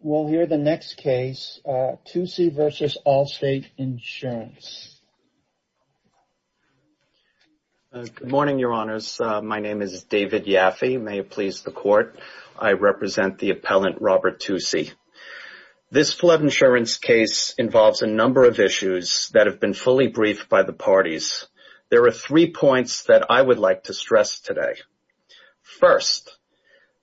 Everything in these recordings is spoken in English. We'll hear the next case, Toossie v. Allstate Insurance. Good morning, your honors. My name is David Yaffe. May it please the court, I represent the appellant Robert Toossie. This flood insurance case involves a number of issues that have been fully briefed by the parties. There are three points that I would like to stress today. First,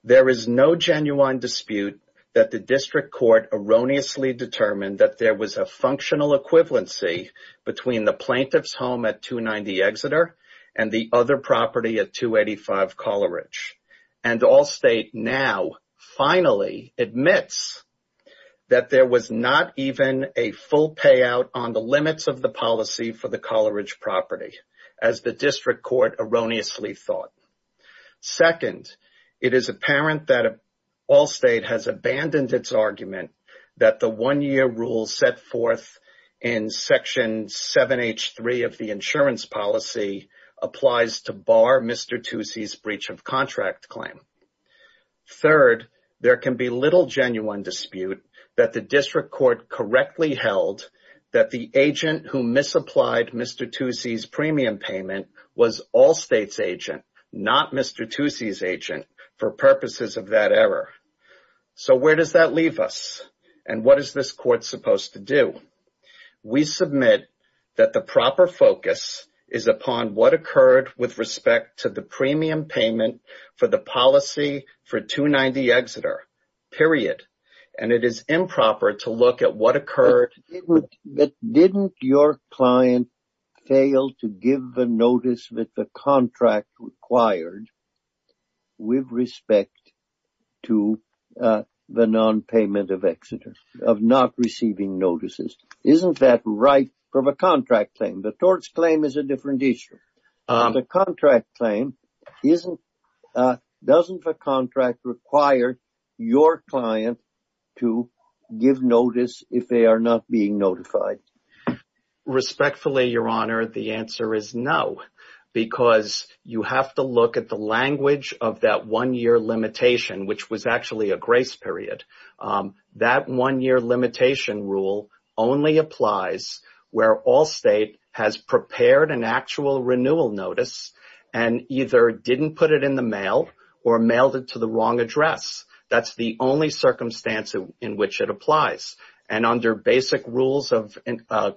there is no genuine dispute that the District Court erroneously determined that there was a functional equivalency between the plaintiff's home at 290 Exeter and the other property at 285 Coleridge. And Allstate now finally admits that there was not even a full payout on the limits of the policy for the Coleridge property, as the District Court erroneously thought. Second, it is apparent that Allstate has abandoned its argument that the one-year rule set forth in Section 7H3 of the insurance policy applies to bar Mr. Toossie's breach of contract claim. Third, there can be little genuine dispute that the District Court correctly held that the agent who misapplied Mr. Toossie's premium payment was Allstate's agent, not Mr. Toossie's agent, for purposes of that error. So where does that leave us? And what is this court supposed to do? We submit that the proper focus is upon what occurred with respect to the premium payment for the policy for 290 Exeter, period. And it is improper to look at what occurred. But didn't your client fail to give the notice that the contract required with respect to the non-payment of Exeter, of not receiving notices? Isn't that right from a contract claim? The tort's claim is a different issue. The contract claim, doesn't the contract require your client to give notice if they are not being notified? Respectfully, Your Honor, the answer is no. Because you have to look at the language of that one-year limitation, which was actually a grace period. That one-year limitation rule only applies where Allstate has prepared an actual renewal notice and either didn't put it in the mail or mailed it to the wrong address. That's the only circumstance in which it applies. And under basic rules of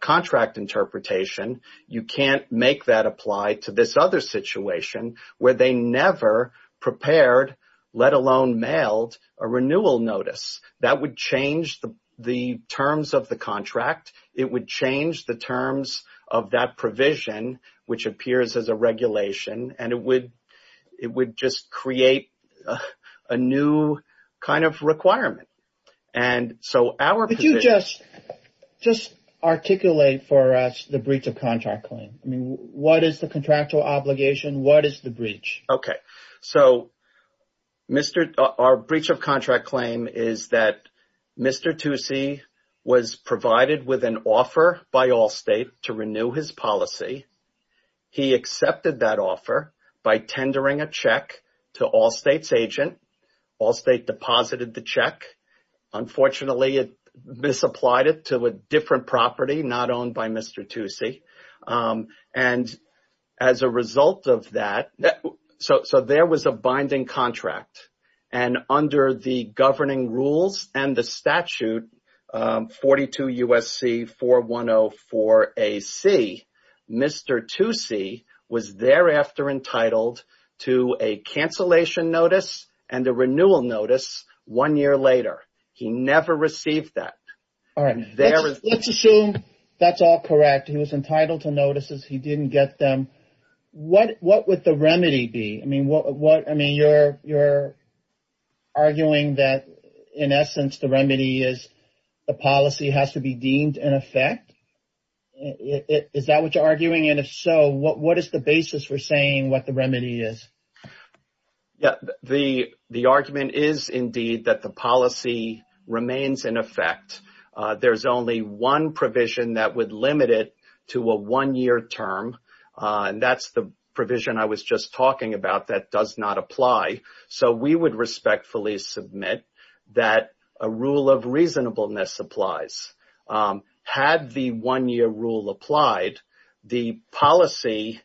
contract interpretation, you can't make that apply to this other situation where they never prepared, let alone mailed, a renewal notice. That would change the terms of the contract. It would change the terms of that provision, which appears as a regulation. And it would just create a new kind of requirement. And so our position... Could you just articulate for us the breach of contract claim? I mean, what is the contractual obligation? What is the breach? Okay. So our breach of contract claim is that Mr. Tucci was provided with an offer by Allstate to renew his policy. He accepted that offer by tendering a check to Allstate's agent. Allstate deposited the check. Unfortunately, it misapplied it to a different property not owned by Mr. Tucci. And as a result of that... So there was a binding contract. And under the governing rules and the statute 42 USC 4104AC, Mr. Tucci was thereafter entitled to a cancellation notice and a renewal notice one year later. He never received that. All right. Let's assume that's all correct. He was entitled to notices. He didn't get them. What would the remedy be? I mean, you're arguing that in essence, the remedy is the policy has to be deemed in effect. Is that what you're arguing? And if so, what is the basis for saying what the remedy is? Yeah. The argument is indeed that the policy remains in effect. There's only one provision that would limit it to a one-year term. And that's the provision I was just talking about that does not apply. So we would respectfully submit that a rule of reasonableness applies. Had the one-year rule applied, the policy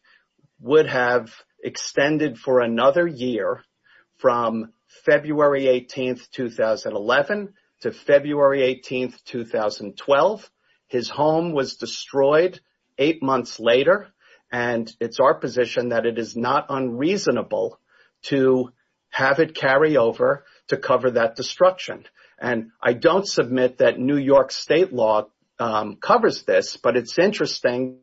would have extended for another year from February 18, 2011 to February 18, 2012. His home was destroyed eight months later. And it's our position that it is not unreasonable to have it carry over to cover that destruction. And I don't submit that New York state law covers this, but it's interesting...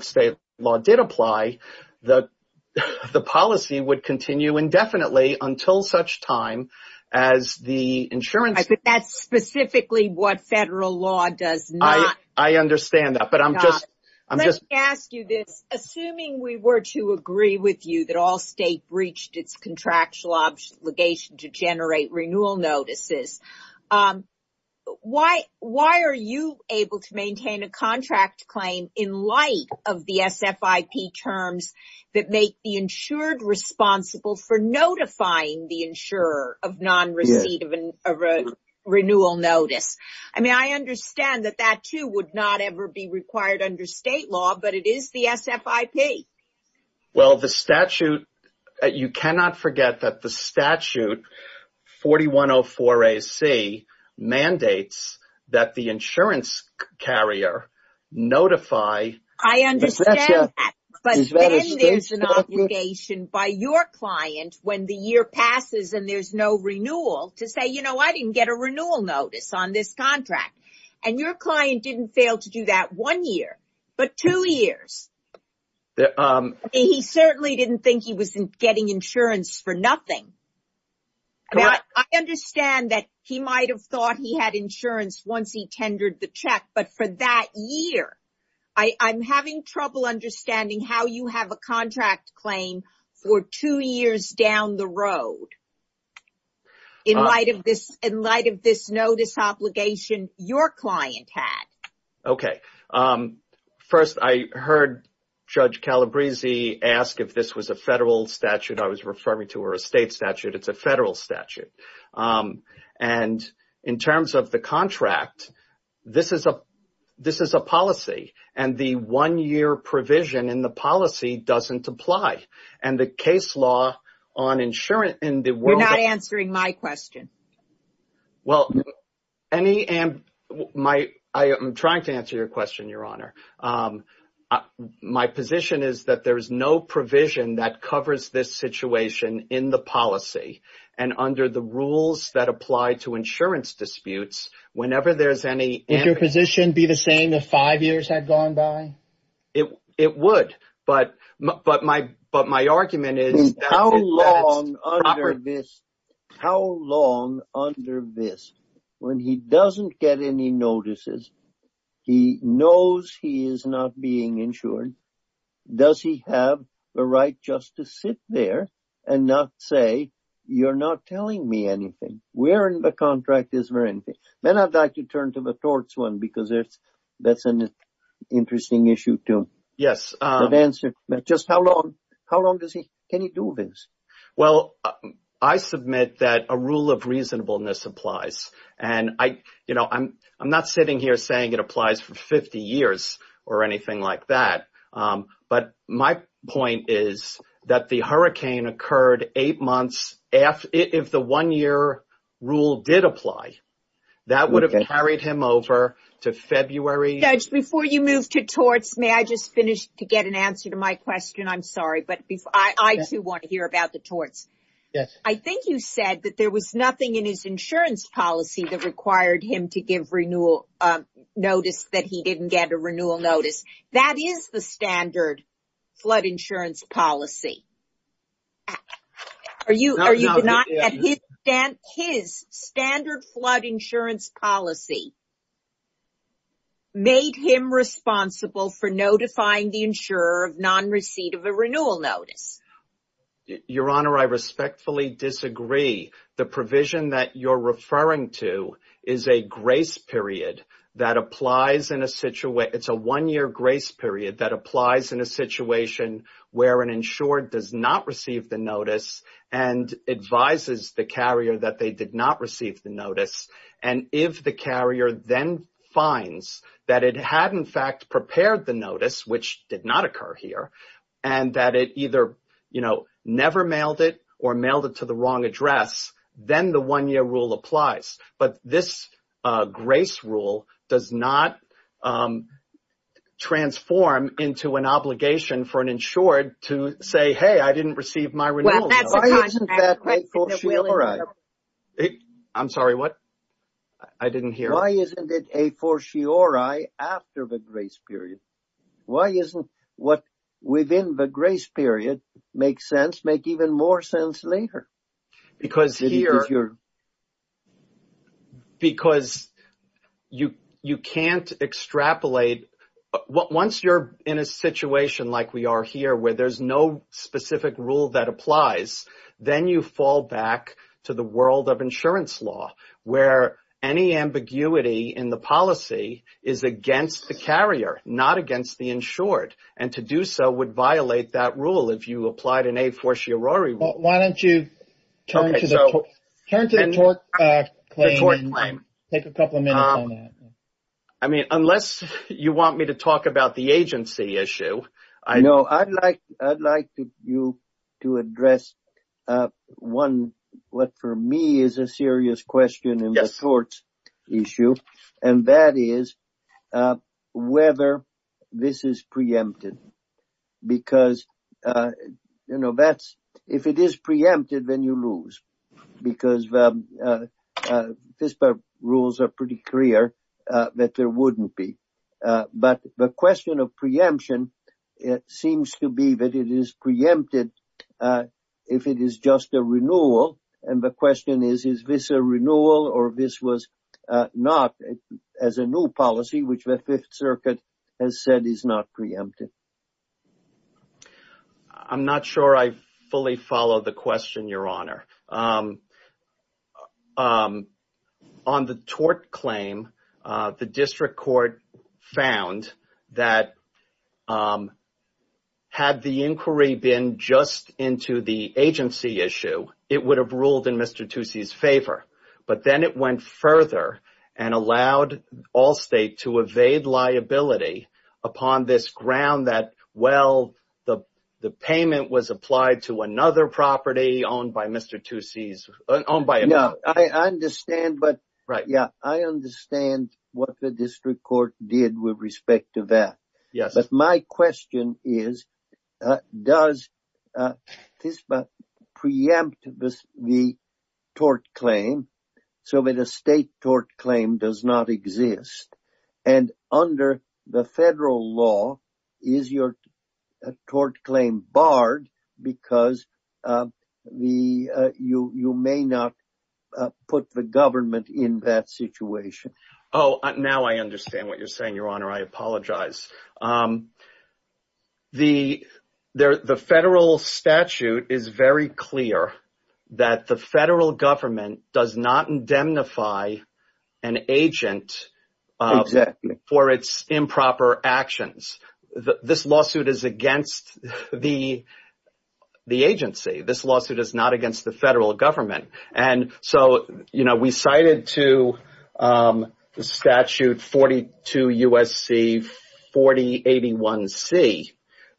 State law did apply. The policy would continue indefinitely until such time as the insurance... I think that's specifically what federal law does not. I understand that, but I'm just... Let me ask you this. Assuming we were to agree with you that all state breached its contractual obligation to generate renewal notices, why are you able to maintain a contract claim in light of the SFIP terms that make the insured responsible for notifying the insurer of non-receipt of a renewal notice? I mean, I understand that that too would not ever be required under state law, but it is the SFIP. Well, the statute... You cannot forget that the statute 4104AC mandates that the insurance carrier notify... I understand that, but then there's an obligation by your client when the year passes and there's no renewal to say, you know, I didn't get a renewal notice on this contract. And your client didn't fail to do that one year, but two years. He certainly didn't think he was getting insurance for nothing. I understand that he might have thought he had insurance once he passed. I'm having trouble understanding how you have a contract claim for two years down the road in light of this notice obligation your client had. Okay. First, I heard Judge Calabresi ask if this was a federal statute I was referring to or a state statute. It's a federal statute. And in terms of the contract, this is a policy. And the one-year provision in the policy doesn't apply. And the case law on insurance in the world... You're not answering my question. Well, I am trying to answer your question, Your Honor. My position is that there is no situation in the policy and under the rules that apply to insurance disputes, whenever there's any... Would your position be the same if five years had gone by? It would. But my argument is... How long under this, when he doesn't get any notices, he knows he is not being insured, does he have the right just to sit there and not say, you're not telling me anything? Where in the contract is there anything? Then I'd like to turn to the torts one because that's an interesting issue to answer. Just how long can he do this? Well, I submit that a rule of reasonableness applies. And I'm not sitting here saying it applies for 50 years or anything like that. But my point is that the hurricane occurred eight months after... If the one-year rule did apply, that would have carried him over to February... Judge, before you move to torts, may I just finish to get an answer to my question? I'm torts. I think you said that there was nothing in his insurance policy that required him to give notice that he didn't get a renewal notice. That is the standard flood insurance policy. His standard flood insurance policy made him responsible for notifying the insurer of non-receipt of a renewal notice. Your Honor, I respectfully disagree. The provision that you're referring to is a grace period that applies in a situation... It's a one-year grace period that applies in a situation where an insured does not receive the notice and advises the carrier that they did not receive the notice. And if the carrier then finds that it had in fact prepared the notice, which did not occur here, and that it either never mailed it or mailed it to the wrong address, then the one-year rule applies. But this grace rule does not transform into an obligation for an insured to say, hey, I didn't receive my renewal notice. I'm sorry, what? I didn't hear. Why isn't it a fortiori after the grace period? Why doesn't what's within the grace period make sense make even more sense later? Because you can't extrapolate. Once you're in a situation like we are here, where there's no specific rule that applies, then you fall back to the in the policy is against the carrier, not against the insured. And to do so would violate that rule if you applied an a fortiori. Why don't you turn to the TORC claim and take a couple of minutes on that. I mean, unless you want me to talk about the agency issue. No, I'd like you to address a one, what for me is a serious question in the TORC issue, and that is whether this is preempted. Because, you know, that's if it is preempted, then you lose. Because FISPA rules are pretty clear that there wouldn't be. But the question of preemption, it seems to be that it is preempted if it is just a renewal. And the question is, is this a renewal or this was not as a new policy, which the Fifth Circuit has said is not preempted? I'm not sure I fully follow the question, Your Honor. On the TORC claim, the district court found that had the inquiry been just into the agency issue, it would have ruled in Mr. Tucci's favor. But then it went further and allowed Allstate to evade liability upon this ground that, well, the payment was applied to another property owned by Mr. Tucci's, owned by him. No, I understand. But yeah, I understand what the district court did with respect to that. But my question is, does FISPA preempt the TORC claim so that a state TORC claim does not exist? And under the federal law, is your TORC claim barred because you may not put the government in that situation? Oh, now I understand what you're saying, Your Honor. I apologize. The federal statute is very clear that the federal government does not indemnify an agent for its improper actions. This lawsuit is against the agency. This lawsuit is not against the federal government. And so, you know, we cited to statute 42 U.S.C. 4081C,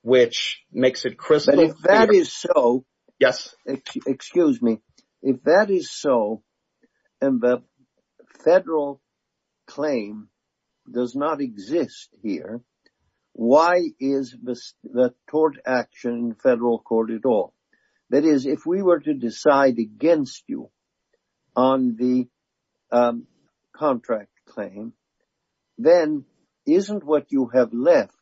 which makes it crystal clear. If that is so, and the federal claim does not exist here, why is the TORC action in federal court at all? That is, if we were to decide against you on the contract claim, then isn't what you have left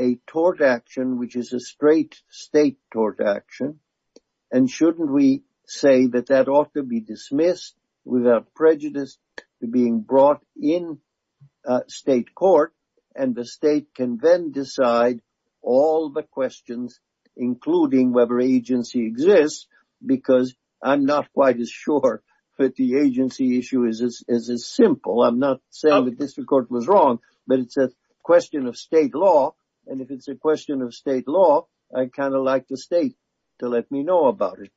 a TORC action, which is a straight state TORC action? And shouldn't we say that that ought to be dismissed without prejudice to being brought in state court? And the state can then decide all the questions, including whether agency exists, because I'm not quite as sure that the agency issue is as simple. I'm not saying the district court was wrong, but it's a question of state law. And if it's a question of state law, I kind of like the state to let me know about it.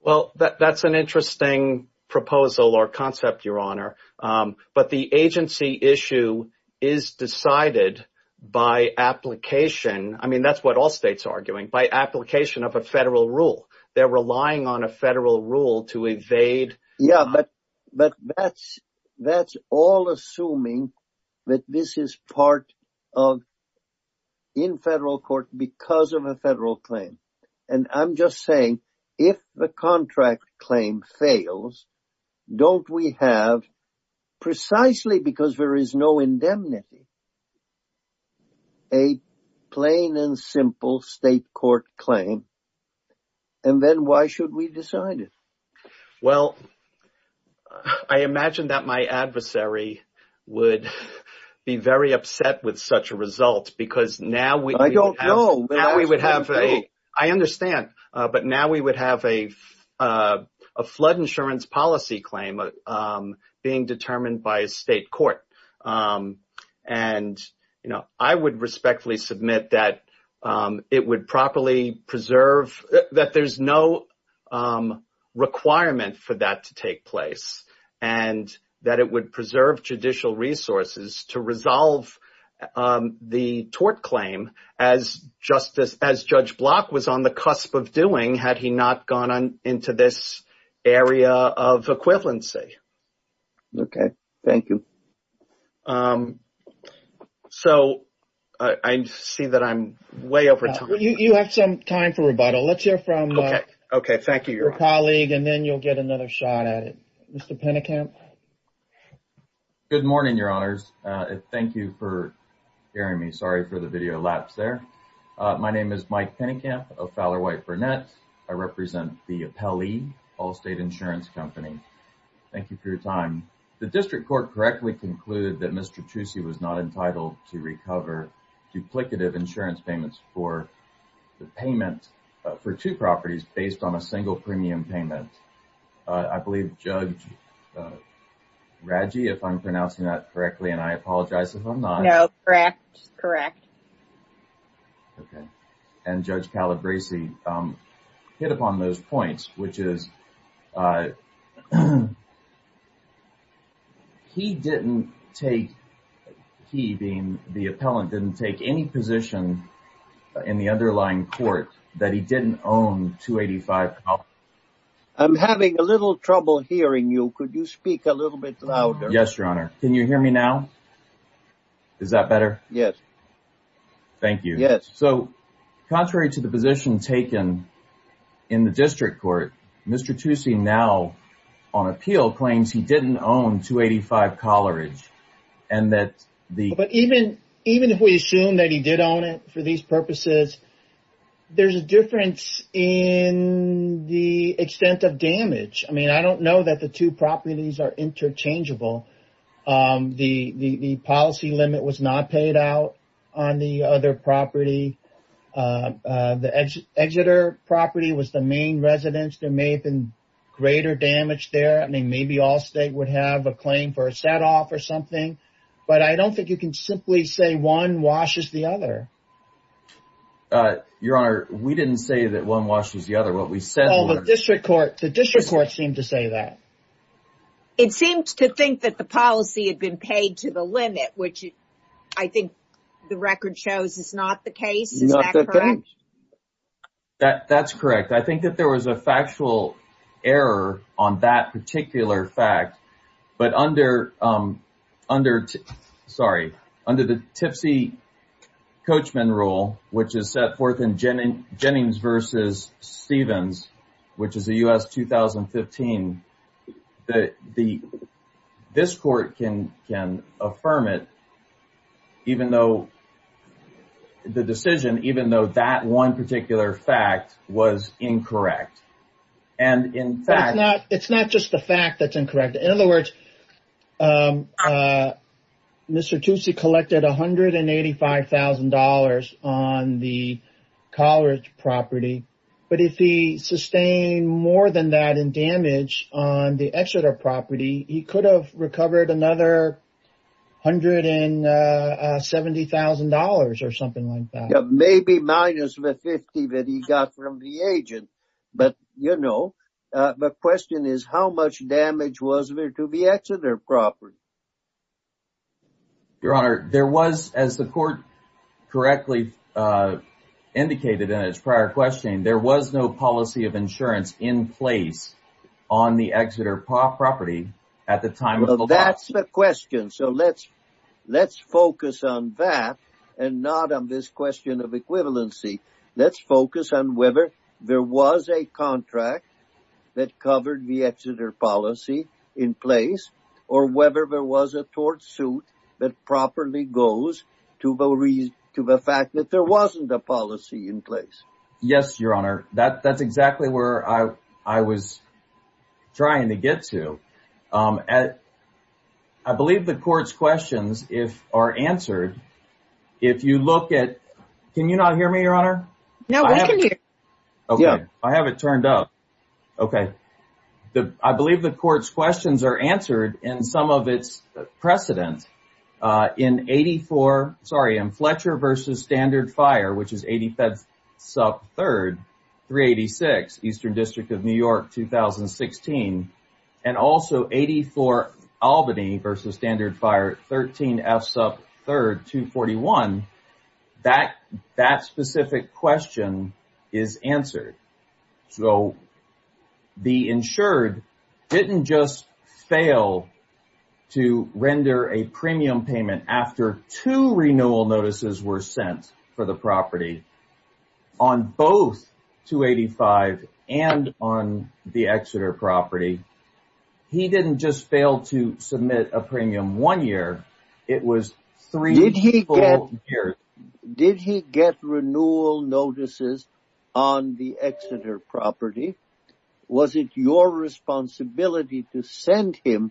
Well, that's an interesting proposal or concept, Your Honor. But the agency issue is decided by application. I mean, that's what all states are arguing, by application of a federal rule. They're relying on a federal rule to evade. Yeah, but that's all assuming that this is part of in federal court because of a federal claim. And I'm just saying, if the contract claim fails, don't we have, precisely because there is no indemnity, a plain and simple state court claim and then why should we decide it? Well, I imagine that my adversary would be very upset with such a result because now we don't know. I understand. But now we would have a flood insurance policy claim being determined by a state court. And, you know, I would respectfully submit that it would properly preserve that there's no requirement for that to take place and that it would preserve judicial resources to resolve the tort claim as Justice, as Judge Block was on the cusp of doing had he not gone on into this area of equivalency. Okay, thank you. Um, so I see that I'm way over time. You have some time for rebuttal. Let's hear from okay, thank you, your colleague, and then you'll get another shot at it. Mr. Pennekamp. Good morning, your honors. Thank you for hearing me. Sorry for the video lapse there. My name is Mike Pennekamp of Fowler White Burnett. I represent the Appellee Allstate Insurance Company. Thank you for your time. The district court correctly concluded that Mr. Trucy was not entitled to recover duplicative insurance payments for the payment for two properties based on a single premium payment. I believe Judge Raggi, if I'm pronouncing that correctly, and I apologize if I'm not. No, correct. Correct. Okay. And Judge Calabresi hit upon those points, which is he didn't take he being the appellant didn't take any position in the underlying court that he didn't own 285. I'm having a little trouble hearing you. Could you speak a little bit louder? Yes, your honor. Can you hear me now? Is that better? Yes. Thank you. Yes. So contrary to the position taken in the district court, Mr. Trucy now on appeal claims he didn't own 285 Coleridge and that the but even even if we assume that he did own it for these purposes, there's a difference in the extent of damage. I mean, I don't know that the two properties are interchangeable. The policy limit was not paid out on the other property. The Exeter property was the main residence. There may have been greater damage there. I mean, maybe all state would have a claim for a set off or something, but I don't think you can simply say one washes the other. Your honor, we didn't say that one washes the other. What we said was the district court seemed to say that. It seemed to think that the policy had been paid to the limit, which I think the record shows is not the case. Is that correct? That's correct. I think that there was a factual error on that particular fact, but under the Tipsey Coachman rule, which is set forth in Jennings versus Stevens, which is the U.S. 2015, that the this court can can affirm it even though the decision, even though that one particular fact was incorrect. And in fact, it's not just the fact that's incorrect. In other words, Mr. Tootsie collected $185,000 on the college property. But if he sustained more than that in damage on the Exeter property, he could have recovered another $170,000 or something like that. Maybe minus the 50 that he got from the agent. But you know, the question is how much damage was there to the Exeter property? Your Honor, there was, as the court correctly indicated in its prior question, there was no policy of insurance in place on the Exeter property at the time. That's the question. So let's let's focus on that and not on this question of in place or whether there was a tort suit that properly goes to the reason to the fact that there wasn't a policy in place. Yes, Your Honor. That that's exactly where I was trying to get to. I believe the court's questions if are answered. If you look at can you not hear me, Your Honor? No, I can hear you. Okay, I have it turned up. Okay. I believe the court's questions are answered in some of its precedent. In 84, sorry, in Fletcher versus Standard Fire, which is 85th sub 3rd 386 Eastern District of New York 2016. And also 84 Albany versus Standard Fire 13 F sub 3rd 241. That specific question is answered. So the insured didn't just fail to render a premium payment after two renewal notices were sent for the property on both 285 and on the Exeter property. He didn't just fail to submit a premium one year. It was three years. Did he get renewal notices on the Exeter property? Was it your responsibility to send him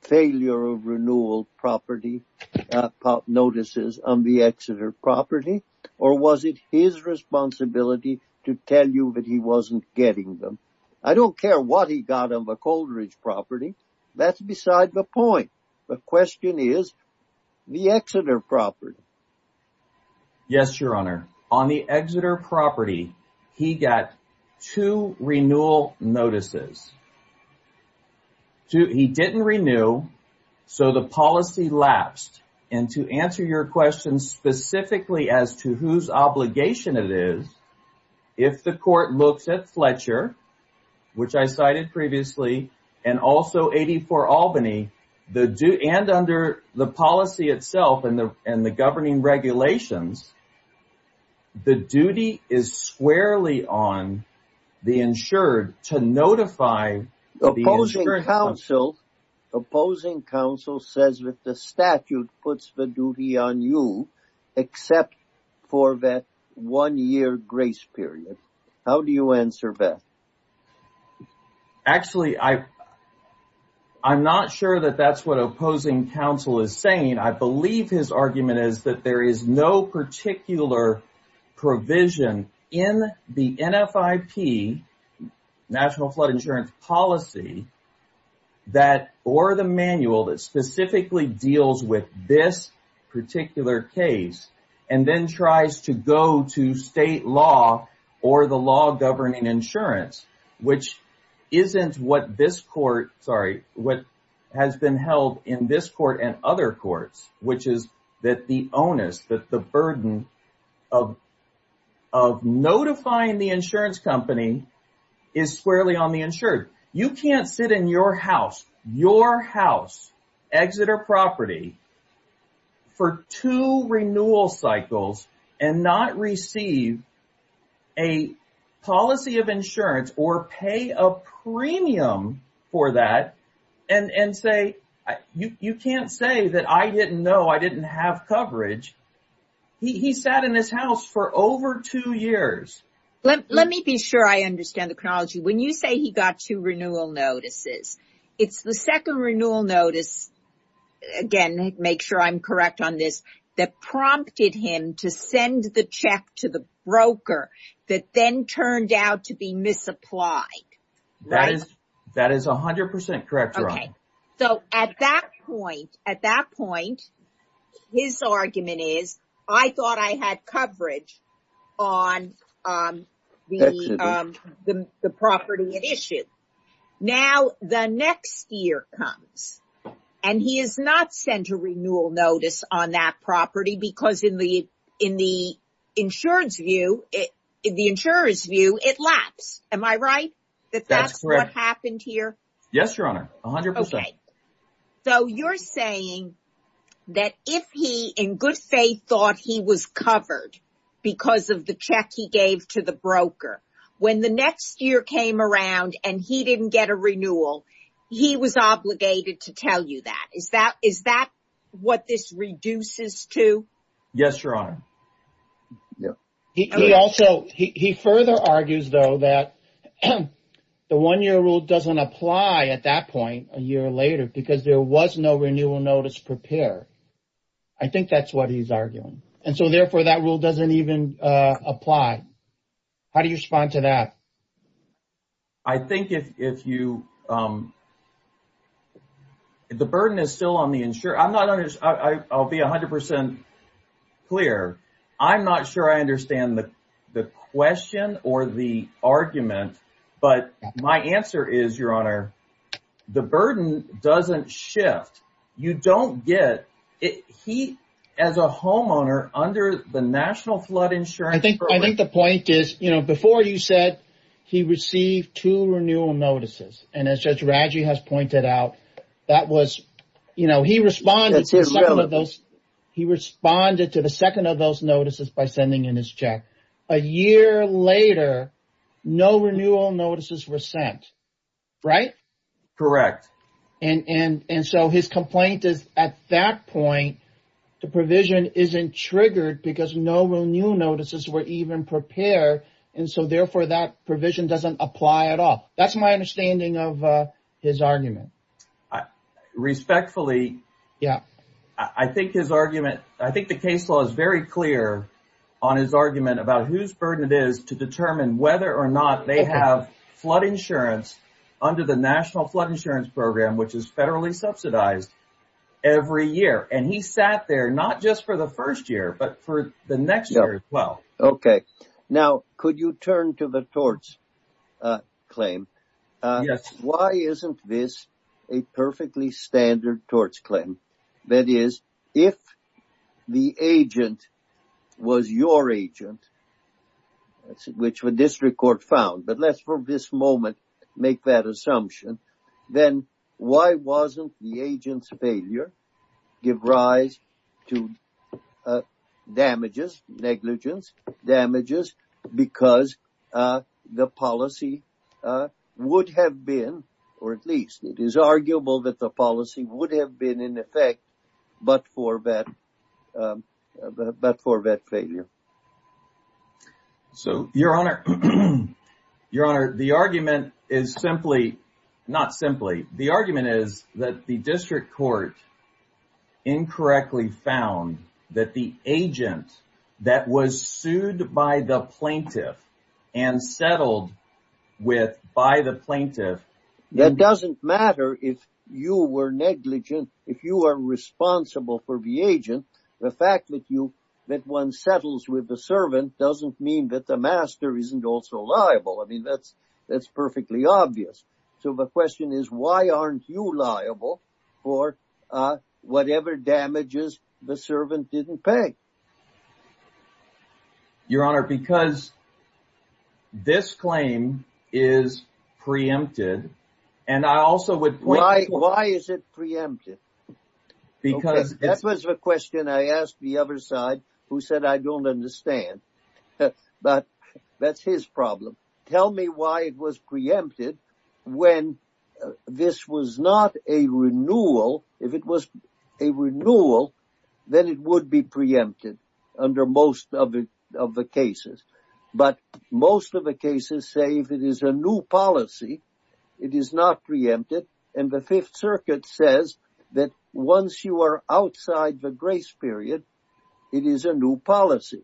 failure of renewal property notices on the Exeter property? Or was it his responsibility to tell you that he wasn't getting them? I don't care what he got on the Coleridge property. That's beside the point. The question is the Exeter property. Yes, Your Honor. On the Exeter property, he got two renewal notices. He didn't renew. So the policy lapsed. And to answer your question specifically as to whose obligation it is, if the court looks at Fletcher, which I cited previously, and also 84 Albany, and under the policy itself and the governing regulations, the duty is squarely on the insured to notify. The opposing counsel says that the statute puts the duty on you except for that one-year grace period. How do you answer that? Actually, I'm not sure that that's what opposing counsel is saying. I believe his argument is that there is no particular provision in the NFIP, National Flood Insurance Policy, that or the manual that specifically deals with this particular case and then tries to go to state law or the law governing insurance, which isn't what this court, sorry, what has been held in this court and other courts, which is that the onus, that the burden of notifying the insurance company is squarely on the insured. You can't sit in your house, your house, Exeter property, for two renewal cycles and not receive a policy of insurance or pay a premium for that and say, you can't say that I didn't know, I didn't have coverage. He sat in his house for over two years. Let me be sure I understand the chronology. When you say he got two renewal notices, it's the second renewal notice, again, make sure I'm correct on this, that prompted him to send the check to the broker that then turned out to be misapplied, right? That is 100% correct, so at that point, at that point, his argument is, I thought I had coverage on the property at issue. Now, the next year comes and he is not sent a renewal notice on that property because in the insurance view, the insurer's view, it lapsed. Am I right? That's what happened here? Yes, Your Honor, 100%. So, you're saying that if he, in good faith, thought he was covered because of the check he gave to the broker, when the next year came around and he didn't get a renewal, he was obligated to tell you that. Is that what this reduces to? Yes, Your Honor. He further argues, though, that the one-year rule doesn't apply at that point, a year later, because there was no renewal notice prepared. I think that's what he's arguing. And so, therefore, that rule doesn't even apply. How do you respond to that? Well, I think if you, the burden is still on the insurer. I'll be 100% clear. I'm not sure I understand the question or the argument, but my answer is, Your Honor, the burden doesn't shift. You don't get, he, as a homeowner, under the National Flood Insurance Program. I think the point is, before you said he received two renewal notices, and as Judge Radji has pointed out, that was, he responded to the second of those notices by sending in his check. A year later, no renewal notices were sent, right? Correct. And so, his complaint is, at that point, the provision isn't triggered because no renewal notices were even prepared. And so, therefore, that provision doesn't apply at all. That's my understanding of his argument. Respectfully, I think his argument, I think the case law is very clear on his argument about whose burden it is to determine whether or not they have insurance under the National Flood Insurance Program, which is federally subsidized every year. And he sat there, not just for the first year, but for the next year as well. Okay. Now, could you turn to the torts claim? Yes. Why isn't this a perfectly standard torts claim? That is, if the agent was your agent, which the district court found, but let's for this moment make that assumption, then why wasn't the agent's failure give rise to damages, negligence, damages, because the policy would have been, or at least it is arguable that the policy would have been in effect, but for that failure. So, your honor, the argument is simply, not simply, the argument is that the district court incorrectly found that the agent that was sued by the plaintiff and settled with by the plaintiff. That doesn't matter if you were negligent, if you are responsible for the agent, the fact that you, that one settles with the servant doesn't mean that the master isn't also liable. I mean, that's perfectly obvious. So, the question is, why aren't you liable for whatever damages the servant didn't pay? Your honor, because this claim is preempted, and I also would... Why, why is it preempted? Because... That was the question I asked the other side, who said I don't understand, but that's his problem. Tell me why it was preempted when this was not a renewal, if it was a renewal, then it would be preempted under most of the cases. But most of the cases say if it is a new policy, it is not preempted, and the Fifth Circuit says that once you are outside the grace period, it is a new policy.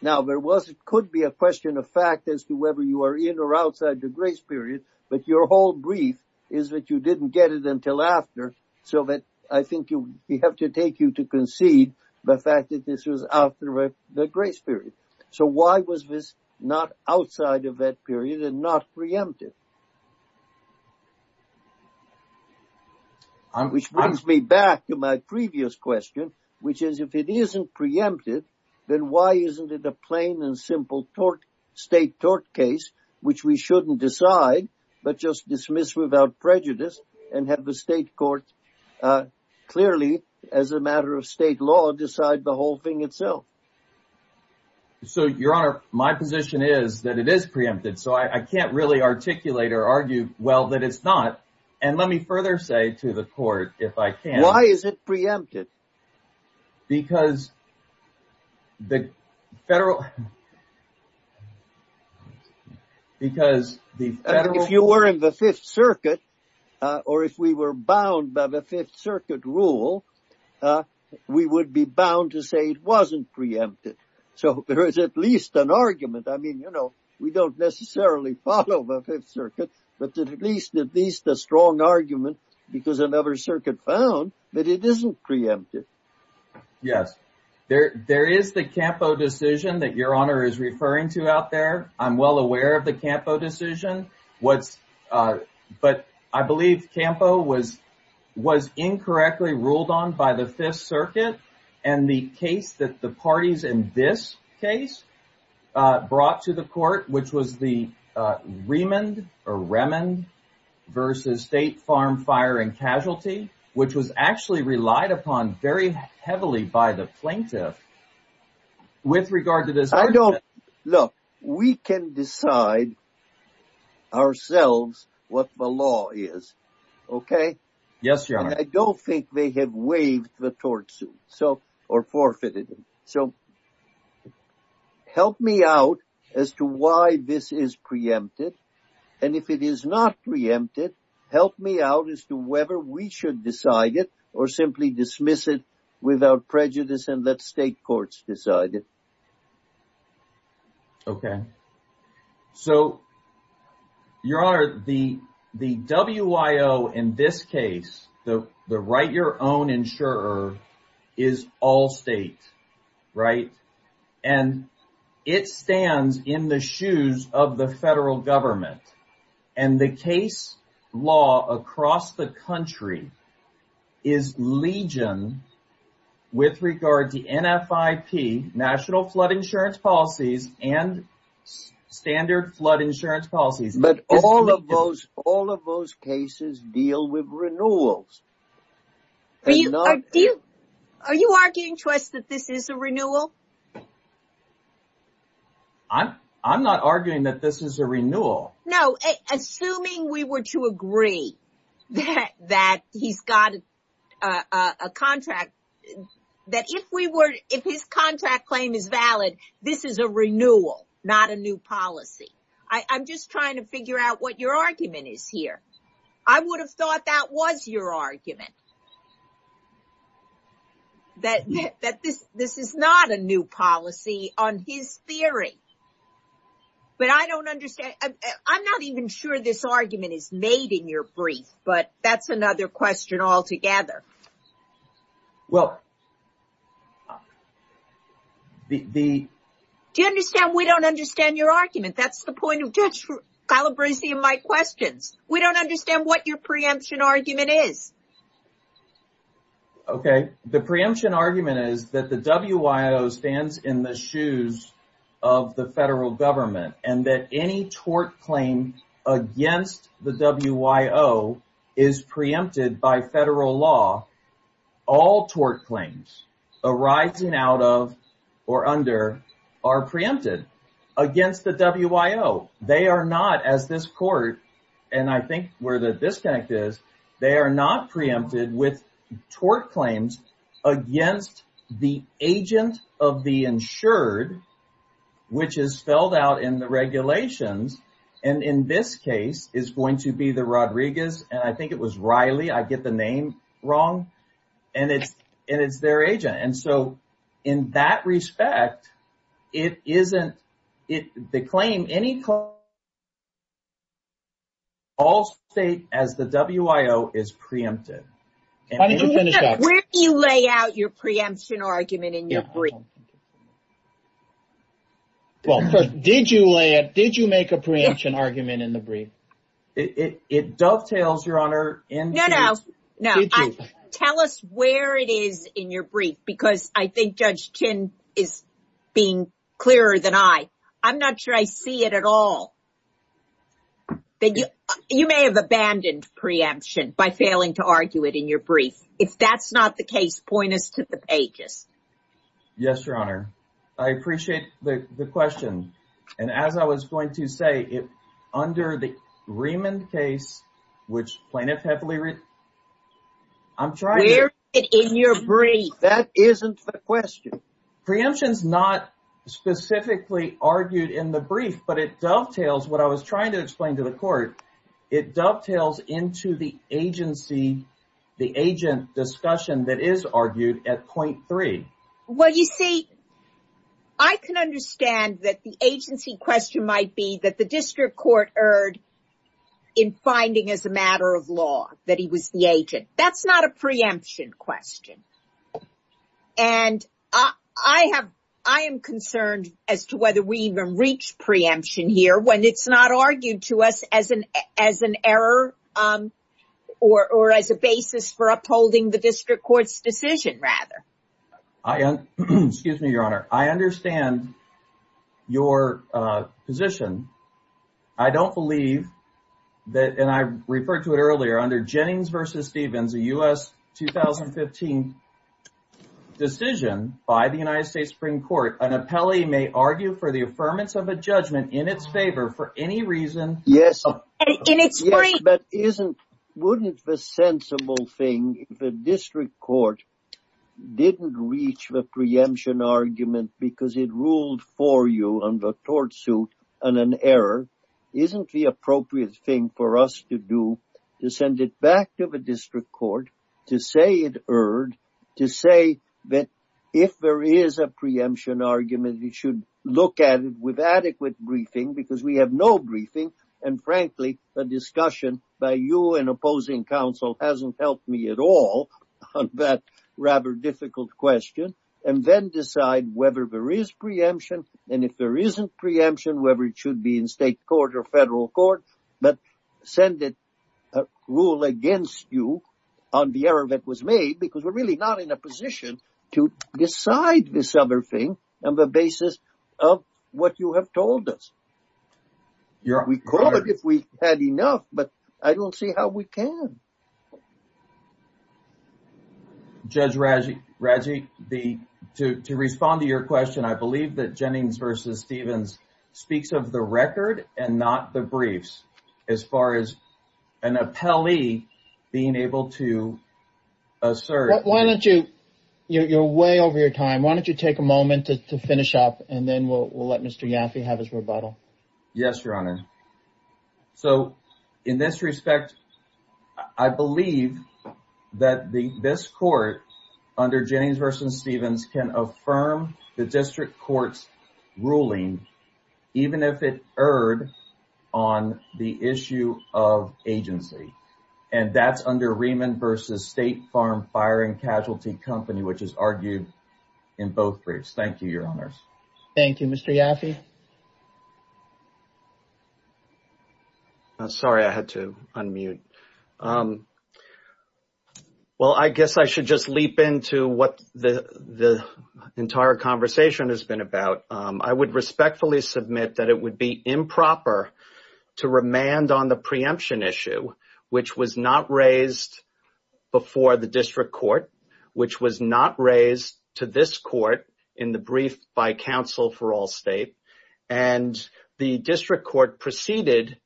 Now, there was, it could be a question of fact as to whether you are in or outside the grace period, but your whole brief is that you didn't get it until after, so that I think you have to take you to concede the fact that this was after the grace period. So, why was this not outside of that period and not preempted? Which brings me back to my previous question, which is if it isn't preempted, then why isn't it a plain and simple tort, state tort case, which we shouldn't decide, but just dismiss without prejudice and have the state courts clearly, as a matter of state law, decide the whole thing itself. So, your honor, my position is that it is preempted, so I can't really articulate or argue well that it's not, and let me further say to the court, if I can. Why is it or if we were bound by the Fifth Circuit rule, we would be bound to say it wasn't preempted. So, there is at least an argument. I mean, you know, we don't necessarily follow the Fifth Circuit, but at least a strong argument because another circuit found that it isn't preempted. Yes, there is the Campo decision that your honor is referring to out there. I'm well aware of the I believe Campo was incorrectly ruled on by the Fifth Circuit and the case that the parties in this case brought to the court, which was the Remand versus State Farm Fire and Casualty, which was actually relied upon very heavily by the plaintiff with regard to this. Look, we can decide ourselves what the law is, okay? Yes, your honor. I don't think they have waived the tort suit or forfeited it. So, help me out as to why this is preempted, and if it is not preempted, help me out as to whether we should decide it or simply dismiss it without prejudice and let state courts decide it. Okay. So, your honor, the WIO in this case, the write your own insurer, is all state, right? And it stands in the shoes of the federal government. And the case law across the country is legion with regard to NFIP, National Flood Insurance Policies, and Standard Flood Insurance Policies. But all of those cases deal with renewals. Are you arguing to us that this is a renewal? No. Assuming we were to agree that he's got a contract, that if his contract claim is valid, this is a renewal, not a new policy. I'm just trying to figure out what your argument is here. I would have thought that was your argument, that this is not a new policy on his theory. But I don't understand. I'm not even sure this argument is made in your brief, but that's another question altogether. Well, the... Do you understand we don't understand your argument? That's the point of Judge Calabresi and my questions. We don't understand what your preemption argument is. Okay. The preemption argument is that the WIO stands in the shoes of the federal government and that any tort claim against the WIO is preempted by federal law. All tort claims arising out of or under are preempted against the WIO. They are not as this court, and I think where this connect is, they are not preempted with tort claims against the agent of the insured, which is spelled out in the regulations. And in this case is going to be the Rodriguez. And I think it was Riley. I get the name wrong. And it's their agent. And so in that respect, it isn't the claim. Any call state as the WIO is preempted. Where do you lay out your preemption argument in your brief? Well, did you lay it? Did you make a preemption argument in the brief? It dovetails, Your Honor. No, no. Tell us where it is in your brief, because I think Judge Chin is being clearer than I. I'm not sure I see it at all. You may have abandoned preemption by failing to argue it in your brief. If that's not the case, point us to the pages. Yes, Your Honor. I appreciate the question. And as I was going to say, under the Riemann case, which plaintiff heavily read, where is it in your brief? I'm trying. That isn't the question. Preemption is not specifically argued in the brief, but it dovetails what I was trying to explain to the court. It dovetails into the agency, the agent discussion that is argued at point three. Well, you see, I can understand that the agency question might be that the district court erred in finding as a matter of law that he was the agent. That's not a preemption question. And I am concerned as to whether we even reach preemption here when it's not argued to us as an error or as a basis for upholding the district court's decision, rather. I, excuse me, Your Honor, I understand your position. I don't believe that, and I referred to it earlier, under Jennings v. Stevens, a U.S. 2015 decision by the United States Supreme Court, an appellee may argue for the affirmance of a judgment in its favor for any reason. Yes. Yes, but wouldn't the sensible thing if the district court didn't reach the preemption argument because it ruled for you on the tort suit and an error, isn't the appropriate thing for us to do to send it back to the district court to say it erred, to say that if there is a preemption argument, we should look at it with adequate briefing because we have no briefing, and frankly, the discussion by you and opposing counsel hasn't helped me at all on that rather difficult question, and then decide whether there is preemption, and if there isn't preemption, whether it should be in state court or federal court, but send it, rule against you on the error that was made because we're really not in a position to decide this other on the basis of what you have told us. We could if we had enough, but I don't see how we can. Judge Radziwi, to respond to your question, I believe that Jennings v. Stevens speaks of the record and not the briefs as far as an appellee being able to and then we'll let Mr. Yaffe have his rebuttal. Yes, Your Honor. So, in this respect, I believe that this court under Jennings v. Stevens can affirm the district court's ruling, even if it erred on the issue of agency, and that's under Rehman v. State Farm Firing Casualty Company, which is argued in both briefs. Thank you, Your Honors. Thank you, Mr. Yaffe. Sorry, I had to unmute. Well, I guess I should just leap into what the entire conversation has been about. I would respectfully submit that it would be improper to remand on the preemption issue, which was not raised before the district court, which was not raised to this court in the brief by counsel for Allstate, and the district court proceeded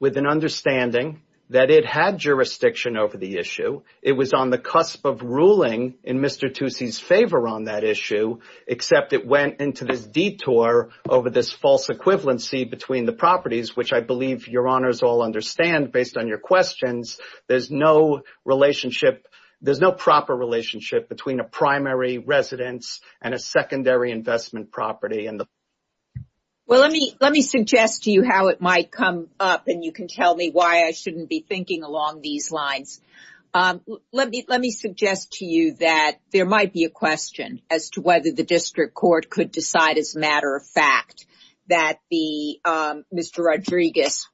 with an understanding that it had jurisdiction over the issue. It was on the cusp of ruling in Mr. Tucci's favor on that issue, except it went into this detour over this false equivalency between the properties, which I believe Your Honors all understand, based on your questions, there's no relationship, there's no proper relationship between a primary residence and a secondary investment property. Well, let me suggest to you how it might come up, and you can tell me why I shouldn't be thinking along these lines. Let me suggest to you that there might be a question as to whether the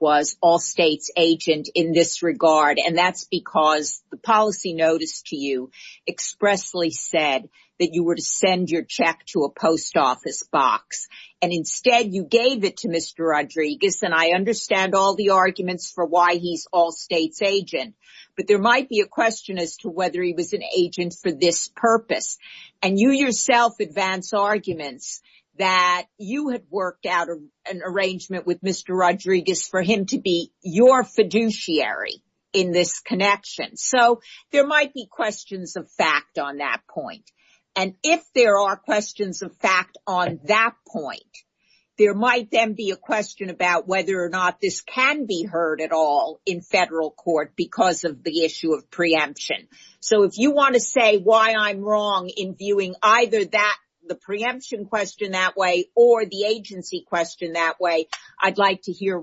was Allstate's agent in this regard, and that's because the policy notice to you expressly said that you were to send your check to a post office box, and instead you gave it to Mr. Rodriguez, and I understand all the arguments for why he's Allstate's agent, but there might be a question as to whether he was an agent for this purpose, and you yourself advance arguments that you had an arrangement with Mr. Rodriguez for him to be your fiduciary in this connection. So, there might be questions of fact on that point, and if there are questions of fact on that point, there might then be a question about whether or not this can be heard at all in federal court because of the issue of preemption. So, if you want to say why I'm wrong in viewing either that, the preemption question that way, or the agency question that way, I'd like to hear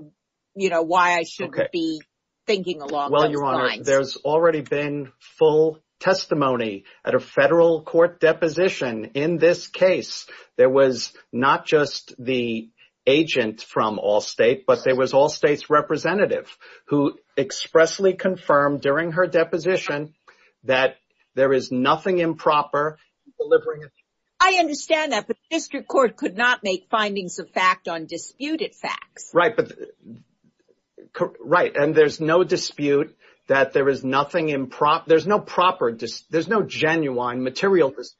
why I shouldn't be thinking along those lines. Well, Your Honor, there's already been full testimony at a federal court deposition in this case. There was not just the agent from Allstate, but there was Allstate's representative who expressly confirmed during her deposition that there is nothing improper in delivering it. I understand that, but the district court could not make findings of fact on disputed facts. Right, and there's no dispute that there is nothing improper. There's no genuine material dispute.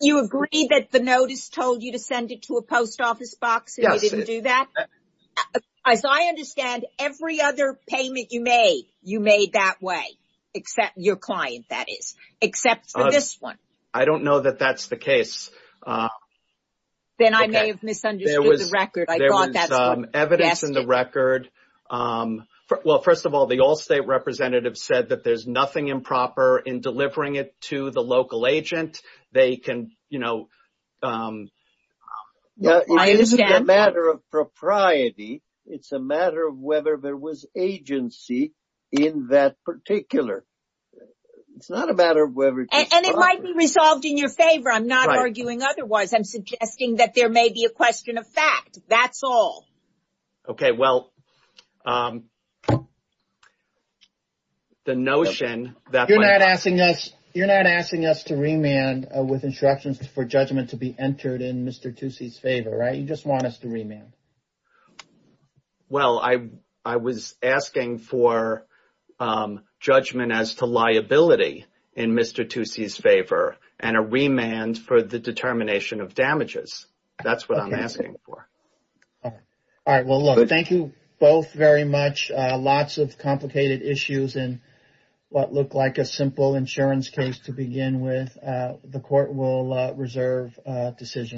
You agree that the notice told you to send it to a post office box and they didn't do that? Yes. As I understand, every other payment you made, you made that way, except your client, that is, except for this one. I don't know that that's the case. Then I may have misunderstood the record. There was evidence in the record. Well, first of all, the Allstate representative said that there's nothing improper in delivering it to the local agent. It's a matter of whether there was agency in that particular. It's not a matter of whether... And it might be resolved in your favor. I'm not arguing otherwise. I'm suggesting that there may be a question of fact. That's all. Okay, well, the notion that... You're not asking us to remand with instructions for judgment to be entered in Mr. Tucci's favor, right? You just want us to remand. Well, I was asking for judgment as to liability in Mr. Tucci's favor and a remand for the very much. Lots of complicated issues and what looked like a simple insurance case to begin with. The court will reserve a decision.